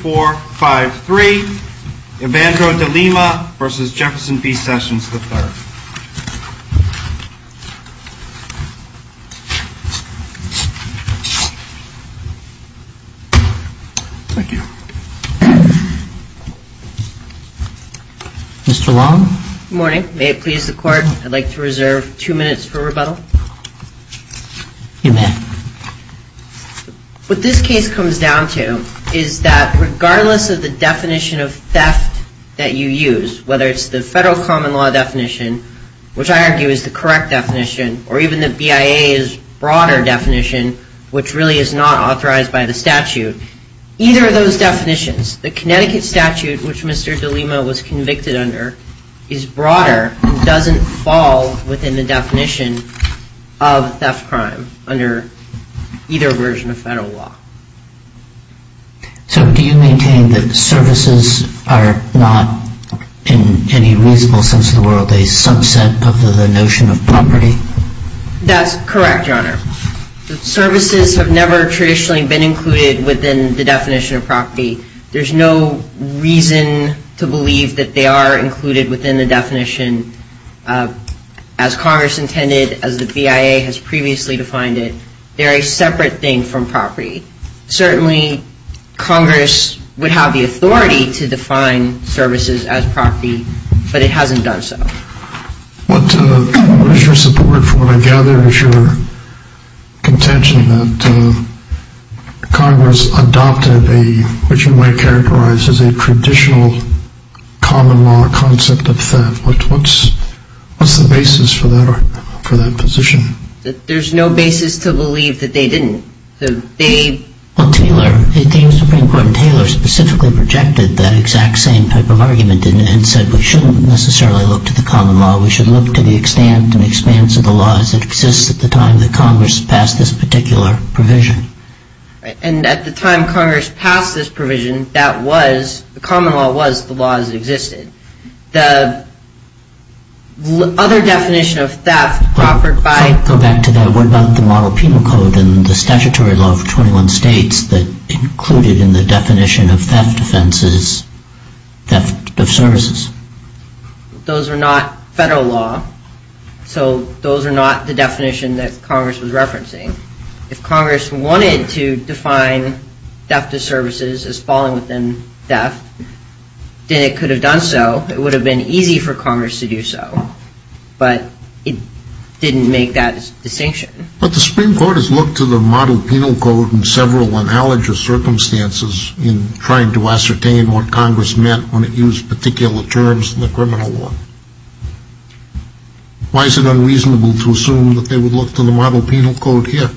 4, 5, 3, Evandro De Lima v. Jefferson B. Sessions III Mr. Long? Good morning. May it please the court, I'd like to reserve two minutes for rebuttal. You may. What this case comes down to is that regardless of the definition of theft that you use, whether it's the federal common law definition, which I argue is the correct definition, or even the BIA's broader definition, which really is not authorized by the statute, either of those definitions, the Connecticut statute, which Mr. De Lima was convicted under, is broader and doesn't fall within the definition of theft crime under either version of federal law. So do you maintain that services are not, in any reasonable sense of the word, a subset of the notion of property? That's correct, Your Honor. Services have never traditionally been included within the definition of property. There's no reason to believe that they are included within the definition. As Congress intended, as the BIA has previously defined it, they're a separate thing from property. Certainly Congress would have the authority to define services as property, but it hasn't done so. What is your support for what I gather is your contention that Congress adopted a, which you might characterize as a traditional common law concept of theft. What's the basis for that position? There's no basis to believe that they didn't. Well, Taylor, the Supreme Court in Taylor specifically projected that exact same type of argument and said we shouldn't necessarily look to the common law. We should look to the extent and expanse of the law as it exists at the time that Congress passed this particular provision. And at the time Congress passed this provision, that was, the common law was the law as it existed. The other definition of theft offered by- Go back to that. What about the model penal code and the statutory law of 21 states that included in the definition of theft offenses, theft of services? Those are not federal law, so those are not the definition that Congress was referencing. If Congress wanted to define theft of services as falling within theft, then it could have done so. It would have been easy for Congress to do so, but it didn't make that distinction. But the Supreme Court has looked to the model penal code in several analogous circumstances in trying to ascertain what Congress meant when it used particular terms in the criminal law. Why is it unreasonable to assume that they would look to the model penal code here?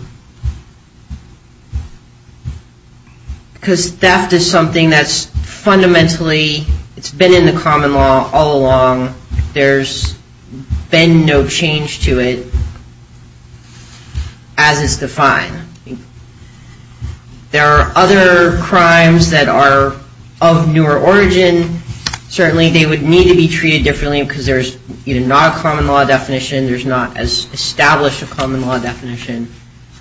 Because theft is something that's fundamentally, it's been in the common law all along. There's been no change to it as it's defined. There are other crimes that are of newer origin. Certainly they would need to be treated differently because there's not a common law definition. There's not as established a common law definition.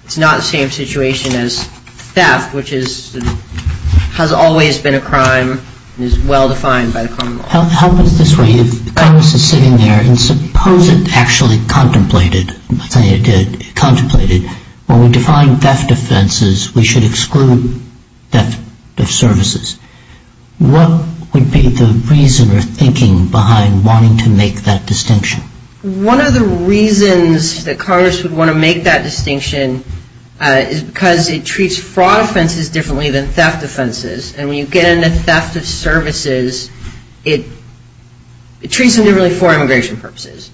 It's not the same situation as theft, which has always been a crime and is well-defined by the common law. How about this way? If Congress is sitting there and suppose it actually contemplated, let's say it did, contemplated, when we define theft offenses, we should exclude theft of services. What would be the reason or thinking behind wanting to make that distinction? One of the reasons that Congress would want to make that distinction is because it treats fraud offenses differently than theft offenses. And when you get into theft of services, it treats them differently for immigration purposes.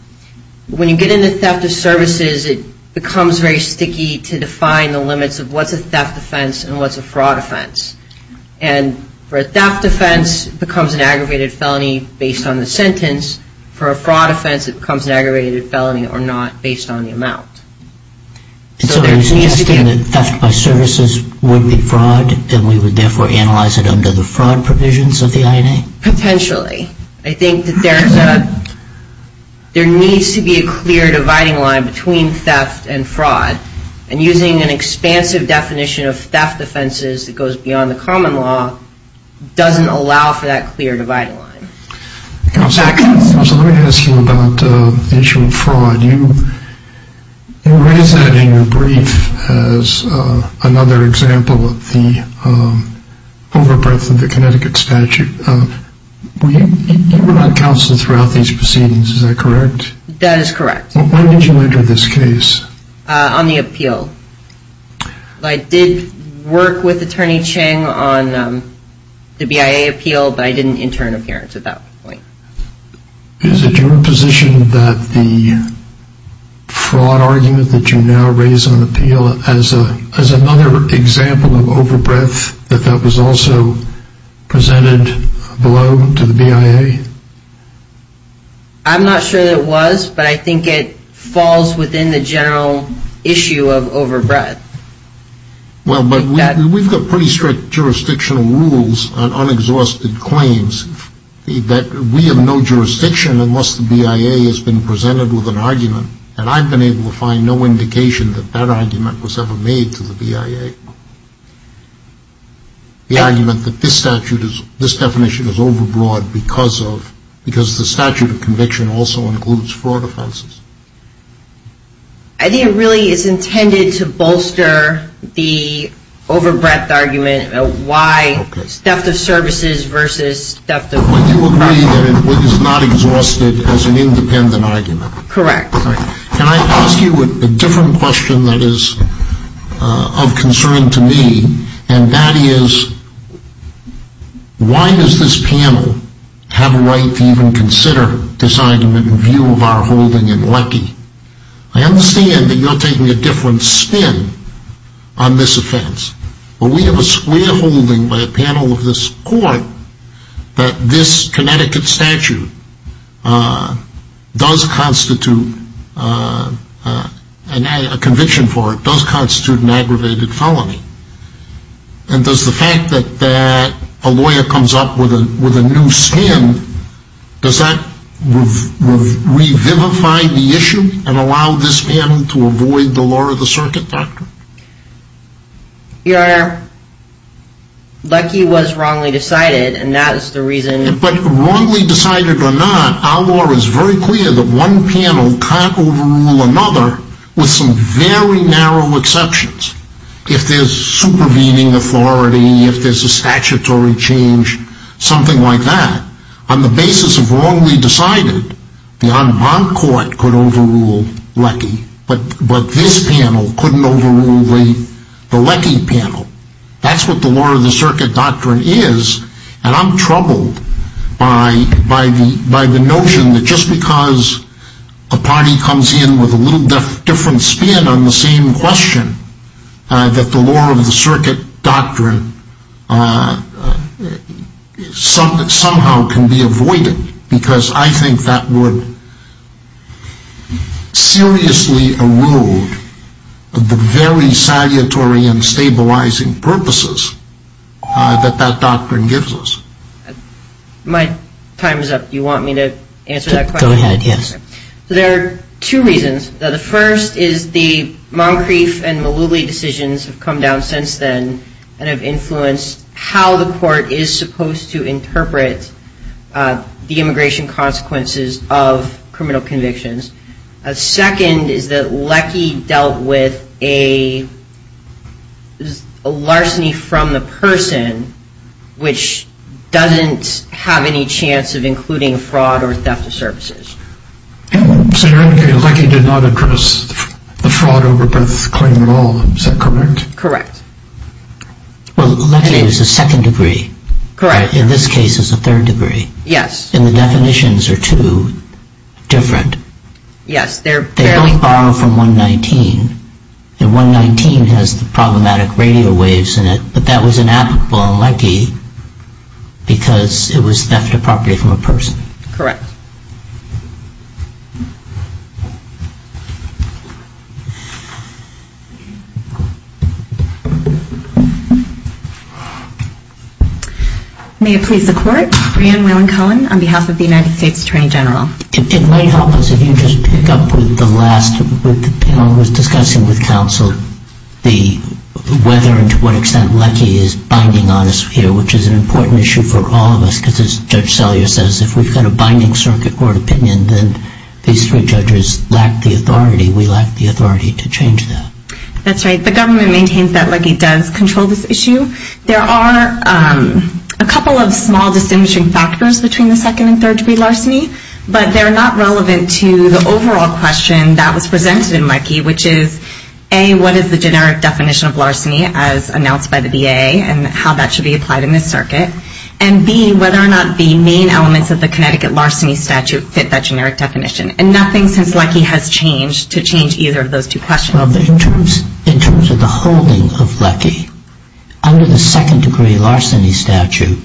When you get into theft of services, it becomes very sticky to define the limits of what's a theft offense and what's a fraud offense. And for a theft offense, it becomes an aggravated felony based on the sentence. For a fraud offense, it becomes an aggravated felony or not based on the amount. So you're suggesting that theft by services would be fraud and we would therefore analyze it under the fraud provisions of the INA? Potentially. I think that there needs to be a clear dividing line between theft and fraud. And using an expansive definition of theft offenses that goes beyond the common law doesn't allow for that clear dividing line. Counselor, let me ask you about the issue of fraud. You raised that in your brief as another example of the over breadth of the Connecticut statute. You were not counseled throughout these proceedings, is that correct? That is correct. When did you enter this case? On the appeal. I did work with Attorney Chang on the BIA appeal, but I didn't enter an appearance at that point. Is it your position that the fraud argument that you now raise on appeal as another example of over breadth, that that was also presented below to the BIA? I'm not sure that it was, but I think it falls within the general issue of over breadth. Well, but we've got pretty strict jurisdictional rules on unexhausted claims. We have no jurisdiction unless the BIA has been presented with an argument. And I've been able to find no indication that that argument was ever made to the BIA. The argument that this statute is, this definition is over broad because of, because the statute of conviction also includes fraud offenses. I think it really is intended to bolster the over breadth argument. Why? Okay. Theft of services versus theft of. Well, you agree that it is not exhausted as an independent argument. Correct. Can I ask you a different question that is of concern to me? And that is, why does this panel have a right to even consider deciding the view of our holding in Leckie? I understand that you're taking a different spin on this offense. But we have a square holding by a panel of this court that this Connecticut statute does constitute, a conviction for it does constitute an aggravated felony. And does the fact that a lawyer comes up with a new spin, does that revivify the issue and allow this panel to avoid the law of the circuit doctrine? Your Honor, Leckie was wrongly decided and that is the reason. But wrongly decided or not, our law is very clear that one panel can't overrule another with some very narrow exceptions. If there's supervening authority, if there's a statutory change, something like that, on the basis of wrongly decided, the en banc court could overrule Leckie. But this panel couldn't overrule the Leckie panel. That's what the law of the circuit doctrine is. And I'm troubled by the notion that just because a party comes in with a little different spin on the same question, that the law of the circuit doctrine somehow can be avoided. Because I think that would seriously erode the very salutary and stabilizing purposes that that doctrine gives us. My time is up. Do you want me to answer that question? Go ahead, yes. There are two reasons. The first is the Moncrief and Mullooly decisions have come down since then and have influenced how the court is supposed to interpret the immigration consequences of criminal convictions. Second is that Leckie dealt with a larceny from the person which doesn't have any chance of including fraud or theft of services. So you're indicating that Leckie did not address the fraud over Beth's claim at all. Is that correct? Correct. Well, Leckie is a second degree. Correct. In this case, it's a third degree. Yes. And the definitions are too different. Yes. They only borrow from 119. And 119 has the problematic radio waves in it. But that was inapplicable in Leckie because it was theft of property from a person. Correct. May it please the Court. Brianne Whelan-Cohen on behalf of the United States Attorney General. It might help us if you just pick up with the last panel that was discussing with counsel whether and to what extent Leckie is binding on us here, which is an important issue for all of us because, as Judge Sellier says, if we've got a binding circuit court opinion, then these three judges lack the authority. We lack the authority to change that. That's right. The government maintains that Leckie does control this issue. There are a couple of small distinguishing factors between the second and third degree larceny, but they're not relevant to the overall question that was presented in Leckie, which is, A, what is the generic definition of larceny as announced by the VA and how that should be applied in this circuit, and, B, whether or not the main elements of the Connecticut larceny statute fit that generic definition. And nothing since Leckie has changed to change either of those two questions. Well, but in terms of the holding of Leckie, under the second degree larceny statute,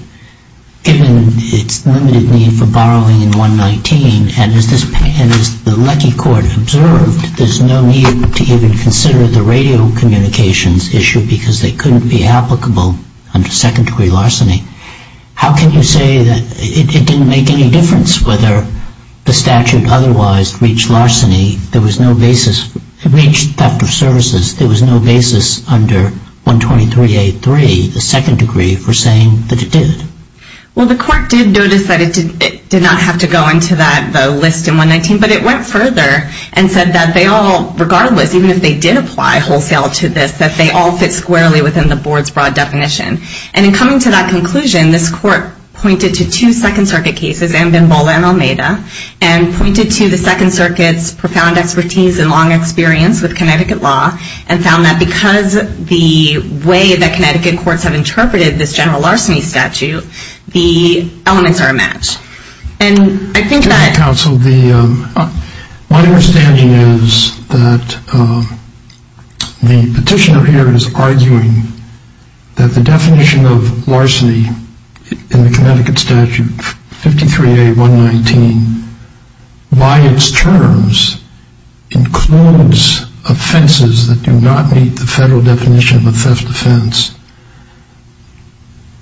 given its limited need for borrowing in 119, and as the Leckie court observed, there's no need to even consider the radio communications issue because they couldn't be applicable under second degree larceny. How can you say that it didn't make any difference whether the statute otherwise reached larceny? There was no basis. It reached doctor of services. There was no basis under 123A.3, the second degree, for saying that it did. Well, the court did notice that it did not have to go into that list in 119, but it went further and said that they all, regardless, even if they did apply wholesale to this, that they all fit squarely within the board's broad definition. And in coming to that conclusion, this court pointed to two Second Circuit cases, and pointed to the Second Circuit's profound expertise and long experience with Connecticut law and found that because the way that Connecticut courts have interpreted this general larceny statute, the elements are a match. And I think that- Counsel, my understanding is that the petitioner here is arguing that the definition of larceny in the Connecticut statute, 53A.119, by its terms, includes offenses that do not meet the federal definition of a theft offense.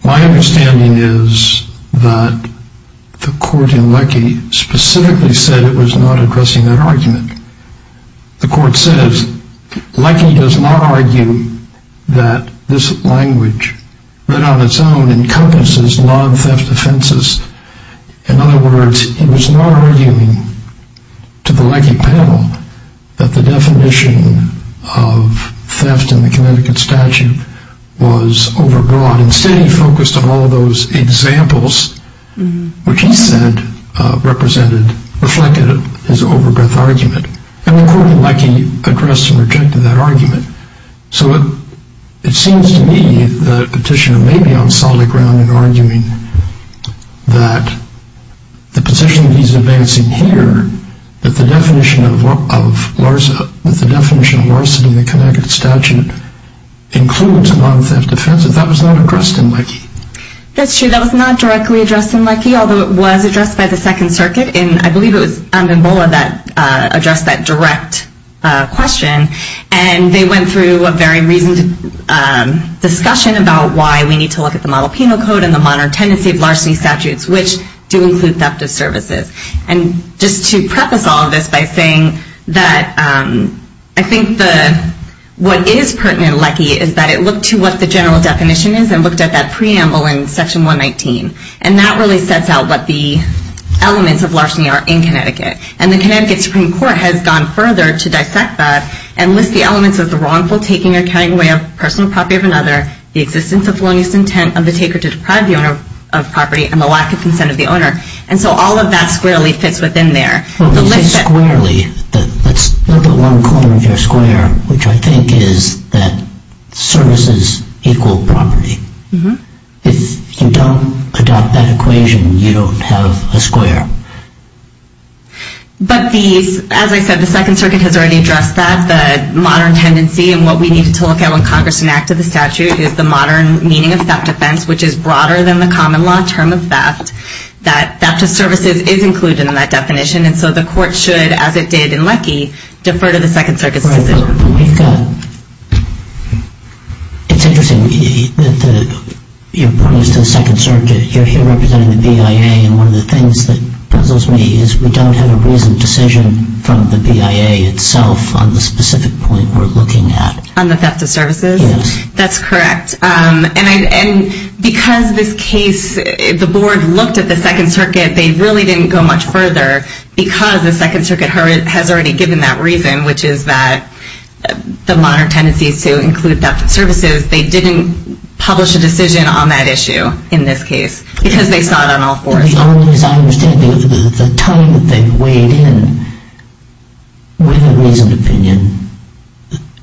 My understanding is that the court in Leckie specifically said it was not addressing that argument. The court says, Leckie does not argue that this language, written on its own, encompasses non-theft offenses. In other words, he was not arguing to the Leckie panel that the definition of theft in the Connecticut statute was overbroad. Instead, he focused on all those examples, which he said reflected his overbroad argument. And the court in Leckie addressed and rejected that argument. So it seems to me that the petitioner may be on solid ground in arguing that the position he's advancing here, that the definition of larceny in the Connecticut statute includes non-theft offenses, that that was not addressed in Leckie. That's true. That was not directly addressed in Leckie, although it was addressed by the Second Circuit. And I believe it was Andenbola that addressed that direct question. And they went through a very reasoned discussion about why we need to look at the Model Penal Code and the modern tendency of larceny statutes, which do include theft of services. And just to preface all of this by saying that I think that what is pertinent in Leckie is that it looked to what the general definition is and looked at that preamble in Section 119. And that really sets out what the elements of larceny are in Connecticut. And the Connecticut Supreme Court has gone further to dissect that and list the elements of the wrongful taking or carrying away of personal property of another, the existence of lawless intent of the taker to deprive the owner of property, and the lack of consent of the owner. And so all of that squarely fits within there. Well, you say squarely. Let's look at one corner of your square, which I think is that services equal property. If you don't adopt that equation, you don't have a square. But as I said, the Second Circuit has already addressed that. The modern tendency and what we need to look at when Congress enacted the statute is the modern meaning of theft offense, which is broader than the common law term of theft, that theft of services is included in that definition. And so the court should, as it did in Leckie, defer to the Second Circuit's decision. It's interesting that you're pointing us to the Second Circuit. You're here representing the BIA. And one of the things that puzzles me is we don't have a reasoned decision from the BIA itself on the specific point we're looking at. On the theft of services? Yes. That's correct. And because this case, the board looked at the Second Circuit, they really didn't go much further because the Second Circuit has already given that reason, which is that the modern tendency is to include theft of services. They didn't publish a decision on that issue in this case because they saw it on all fours. As I understand it, the time that they weighed in with a reasoned opinion,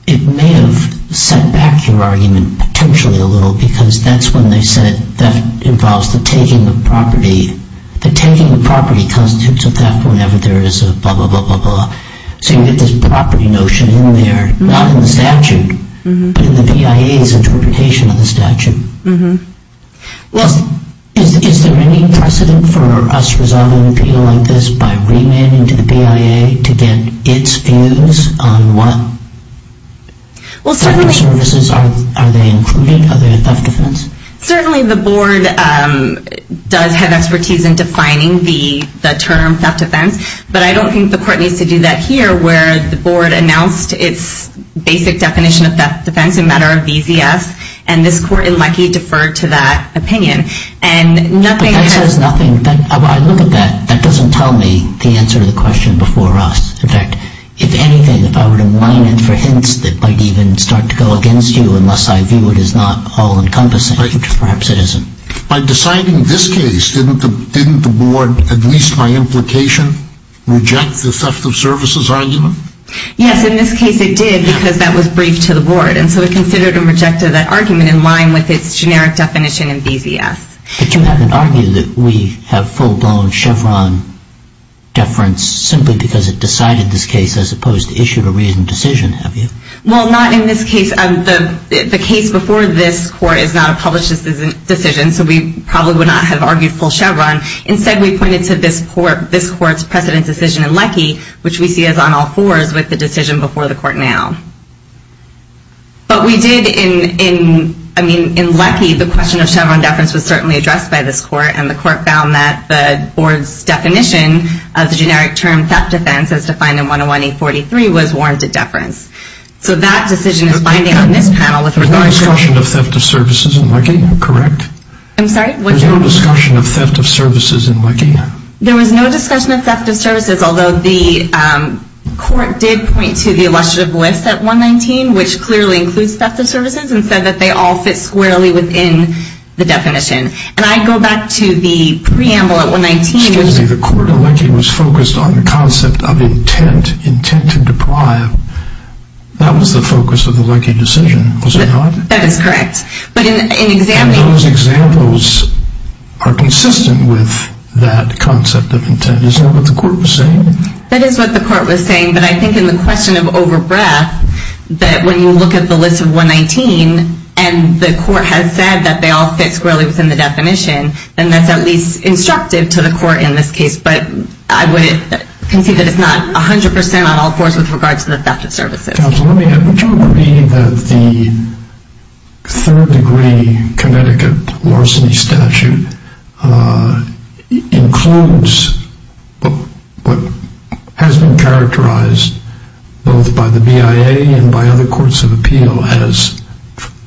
it may have set back your argument potentially a little because that's when they said theft involves the taking of property. The taking of property constitutes a theft whenever there is a blah, blah, blah, blah, blah. So you get this property notion in there, not in the statute, but in the BIA's interpretation of the statute. Well, is there any precedent for us resolving an appeal like this by remanding to the BIA to get its views on what theft of services are they including? Are they a theft of defense? Certainly the board does have expertise in defining the term theft of defense, but I don't think the court needs to do that here where the board announced its basic definition of theft of defense in matter of VZS, and this court, unlikely, deferred to that opinion. But that says nothing. I look at that. That doesn't tell me the answer to the question before us. In fact, if anything, if I were to mine in for hints that might even start to go against you unless I view it as not all-encompassing, which perhaps it isn't. By deciding this case, didn't the board, at least by implication, reject the theft of services argument? Yes, in this case it did because that was briefed to the board, and so it considered and rejected that argument in line with its generic definition in VZS. But you haven't argued that we have full-blown Chevron deference simply because it decided this case as opposed to issued a reasoned decision, have you? Well, not in this case. The case before this court is not a published decision, so we probably would not have argued full Chevron. Instead, we pointed to this court's precedent decision in Leckie, which we see is on all fours with the decision before the court now. But we did in Leckie. The question of Chevron deference was certainly addressed by this court, and the court found that the board's definition of the generic term theft defense as defined in 101A43 was warranted deference. So that decision is binding on this panel with regard to... There was no discussion of theft of services in Leckie, correct? I'm sorry? There was no discussion of theft of services in Leckie? There was no discussion of theft of services, although the court did point to the illustrative list at 119, which clearly includes theft of services, and said that they all fit squarely within the definition. And I go back to the preamble at 119... Excuse me. The court in Leckie was focused on the concept of intent, intent to deprive. That was the focus of the Leckie decision, was it not? That is correct. And those examples are consistent with that concept of intent. Is that what the court was saying? That is what the court was saying, but I think in the question of over-breath that when you look at the list of 119 and the court has said that they all fit squarely within the definition, then that's at least instructive to the court in this case, but I would concede that it's not 100% on all fours with regard to the theft of services. Counsel, would you agree that the third degree Connecticut larceny statute includes what has been characterized both by the BIA and by other courts of appeal as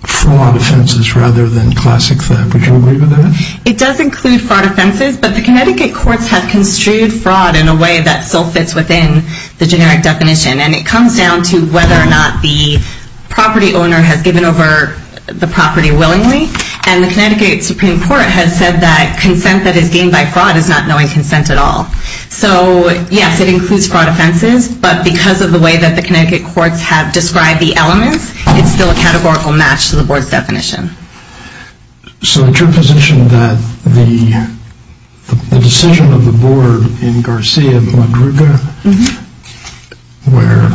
fraud offenses rather than classic theft? Would you agree with that? It does include fraud offenses, but the Connecticut courts have construed fraud in a way that still fits within the generic definition, and it comes down to whether or not the property owner has given over the property willingly, and the Connecticut Supreme Court has said that consent that is gained by fraud is not knowing consent at all. So, yes, it includes fraud offenses, but because of the way that the Connecticut courts have described the elements, it's still a categorical match to the board's definition. So it's your position that the decision of the board in Garcia Madruga, where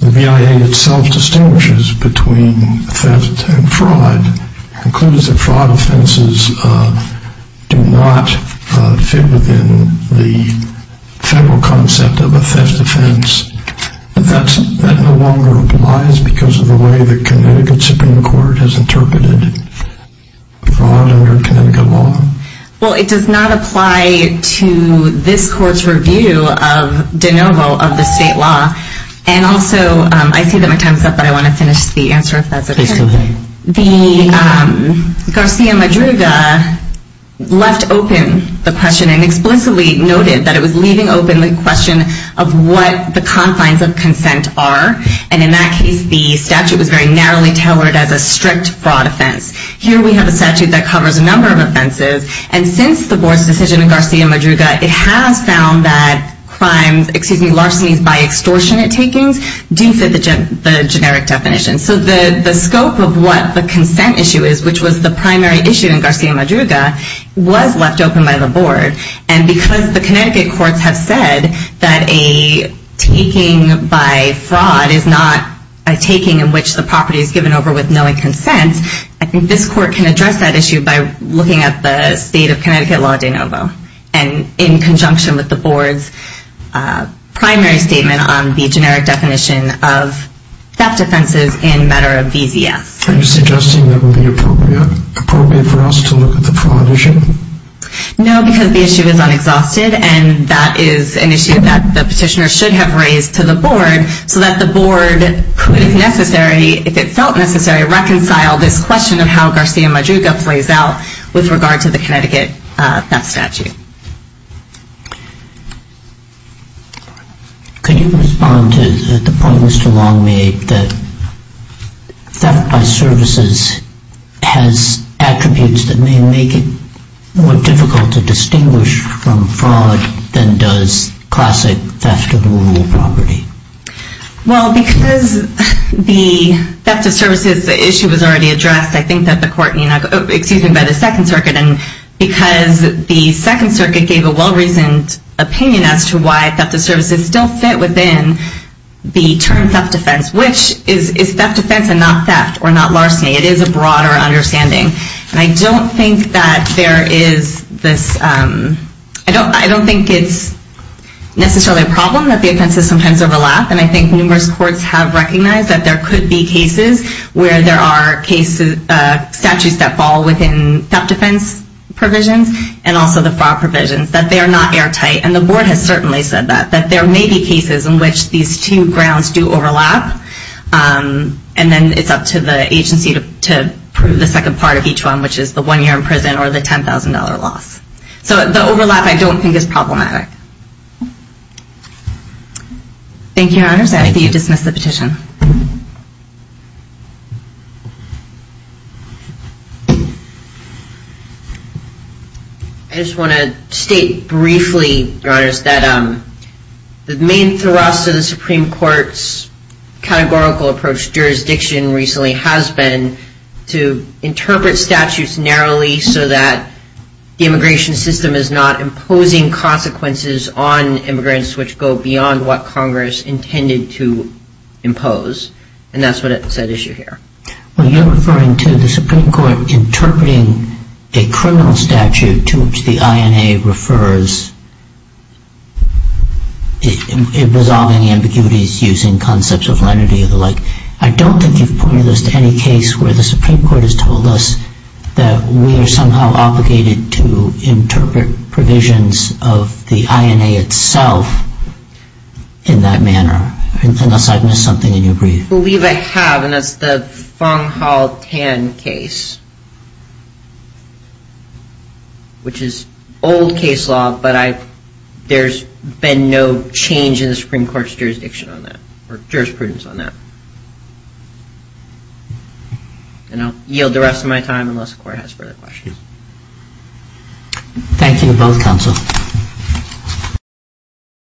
the BIA itself distinguishes between theft and fraud, includes that fraud offenses do not fit within the federal concept of a theft offense, but that no longer applies because of the way the Connecticut Supreme Court has interpreted fraud under Connecticut law? Well, it does not apply to this court's review of de novo of the state law, and also I see that my time is up, but I want to finish the answer if that's okay. The Garcia Madruga left open the question and explicitly noted that it was leaving open the question of what the confines of consent are, and in that case the statute was very narrowly tailored as a strict fraud offense. Here we have a statute that covers a number of offenses, and since the board's decision in Garcia Madruga, it has found that larcenies by extortionate takings do fit the generic definition. So the scope of what the consent issue is, which was the primary issue in Garcia Madruga, was left open by the board, and because the Connecticut courts have said that a taking by fraud is not a taking in which the property is given over with knowing consent, I think this court can address that issue by looking at the state of Connecticut law de novo, and in conjunction with the board's primary statement on the generic definition of theft offenses in matter of VZS. Are you suggesting that it would be appropriate for us to look at the fraud issue? No, because the issue is unexhausted, and that is an issue that the petitioner should have raised to the board so that the board could, if necessary, if it felt necessary, reconcile this question of how Garcia Madruga plays out with regard to the Connecticut theft statute. Could you respond to the point Mr. Long made that theft by services has attributes that may make it more difficult to distinguish from fraud than does classic theft of a rural property? Well, because the theft of services issue was already addressed, I think that the court, excuse me, by the Second Circuit, and because the Second Circuit gave a well-reasoned opinion as to why theft of services still fit within the term theft defense, which is theft defense and not theft or not larceny. It is a broader understanding, and I don't think that there is this, I don't think it's necessarily a problem that the offenses sometimes overlap, and I think numerous courts have recognized that there could be cases where there are cases, statutes that fall within theft defense provisions and also the fraud provisions, that they are not airtight, and the board has certainly said that, that there may be cases in which these two grounds do overlap, and then it's up to the agency to prove the second part of each one, which is the one year in prison or the $10,000 loss. So the overlap I don't think is problematic. Thank you, Your Honors. I think you've dismissed the petition. I just want to state briefly, Your Honors, that the main thrust of the Supreme Court's categorical approach to jurisdiction recently has been to interpret statutes narrowly so that the immigration system is not imposing consequences on immigrants which go beyond what Congress intended to impose, and that's what's at issue here. Well, you're referring to the Supreme Court interpreting a criminal statute to which the INA refers in resolving ambiguities using concepts of lenity and the like. I don't think you've pointed this to any case where the Supreme Court has told us that we are somehow obligated to interpret provisions of the INA itself in that manner, unless I've missed something and you agree. I believe I have, and that's the Fung-Hao Tan case, which is old case law, but there's been no change in the Supreme Court's jurisdiction on that or jurisprudence on that. And I'll yield the rest of my time unless the Court has further questions. Thank you to both counsel.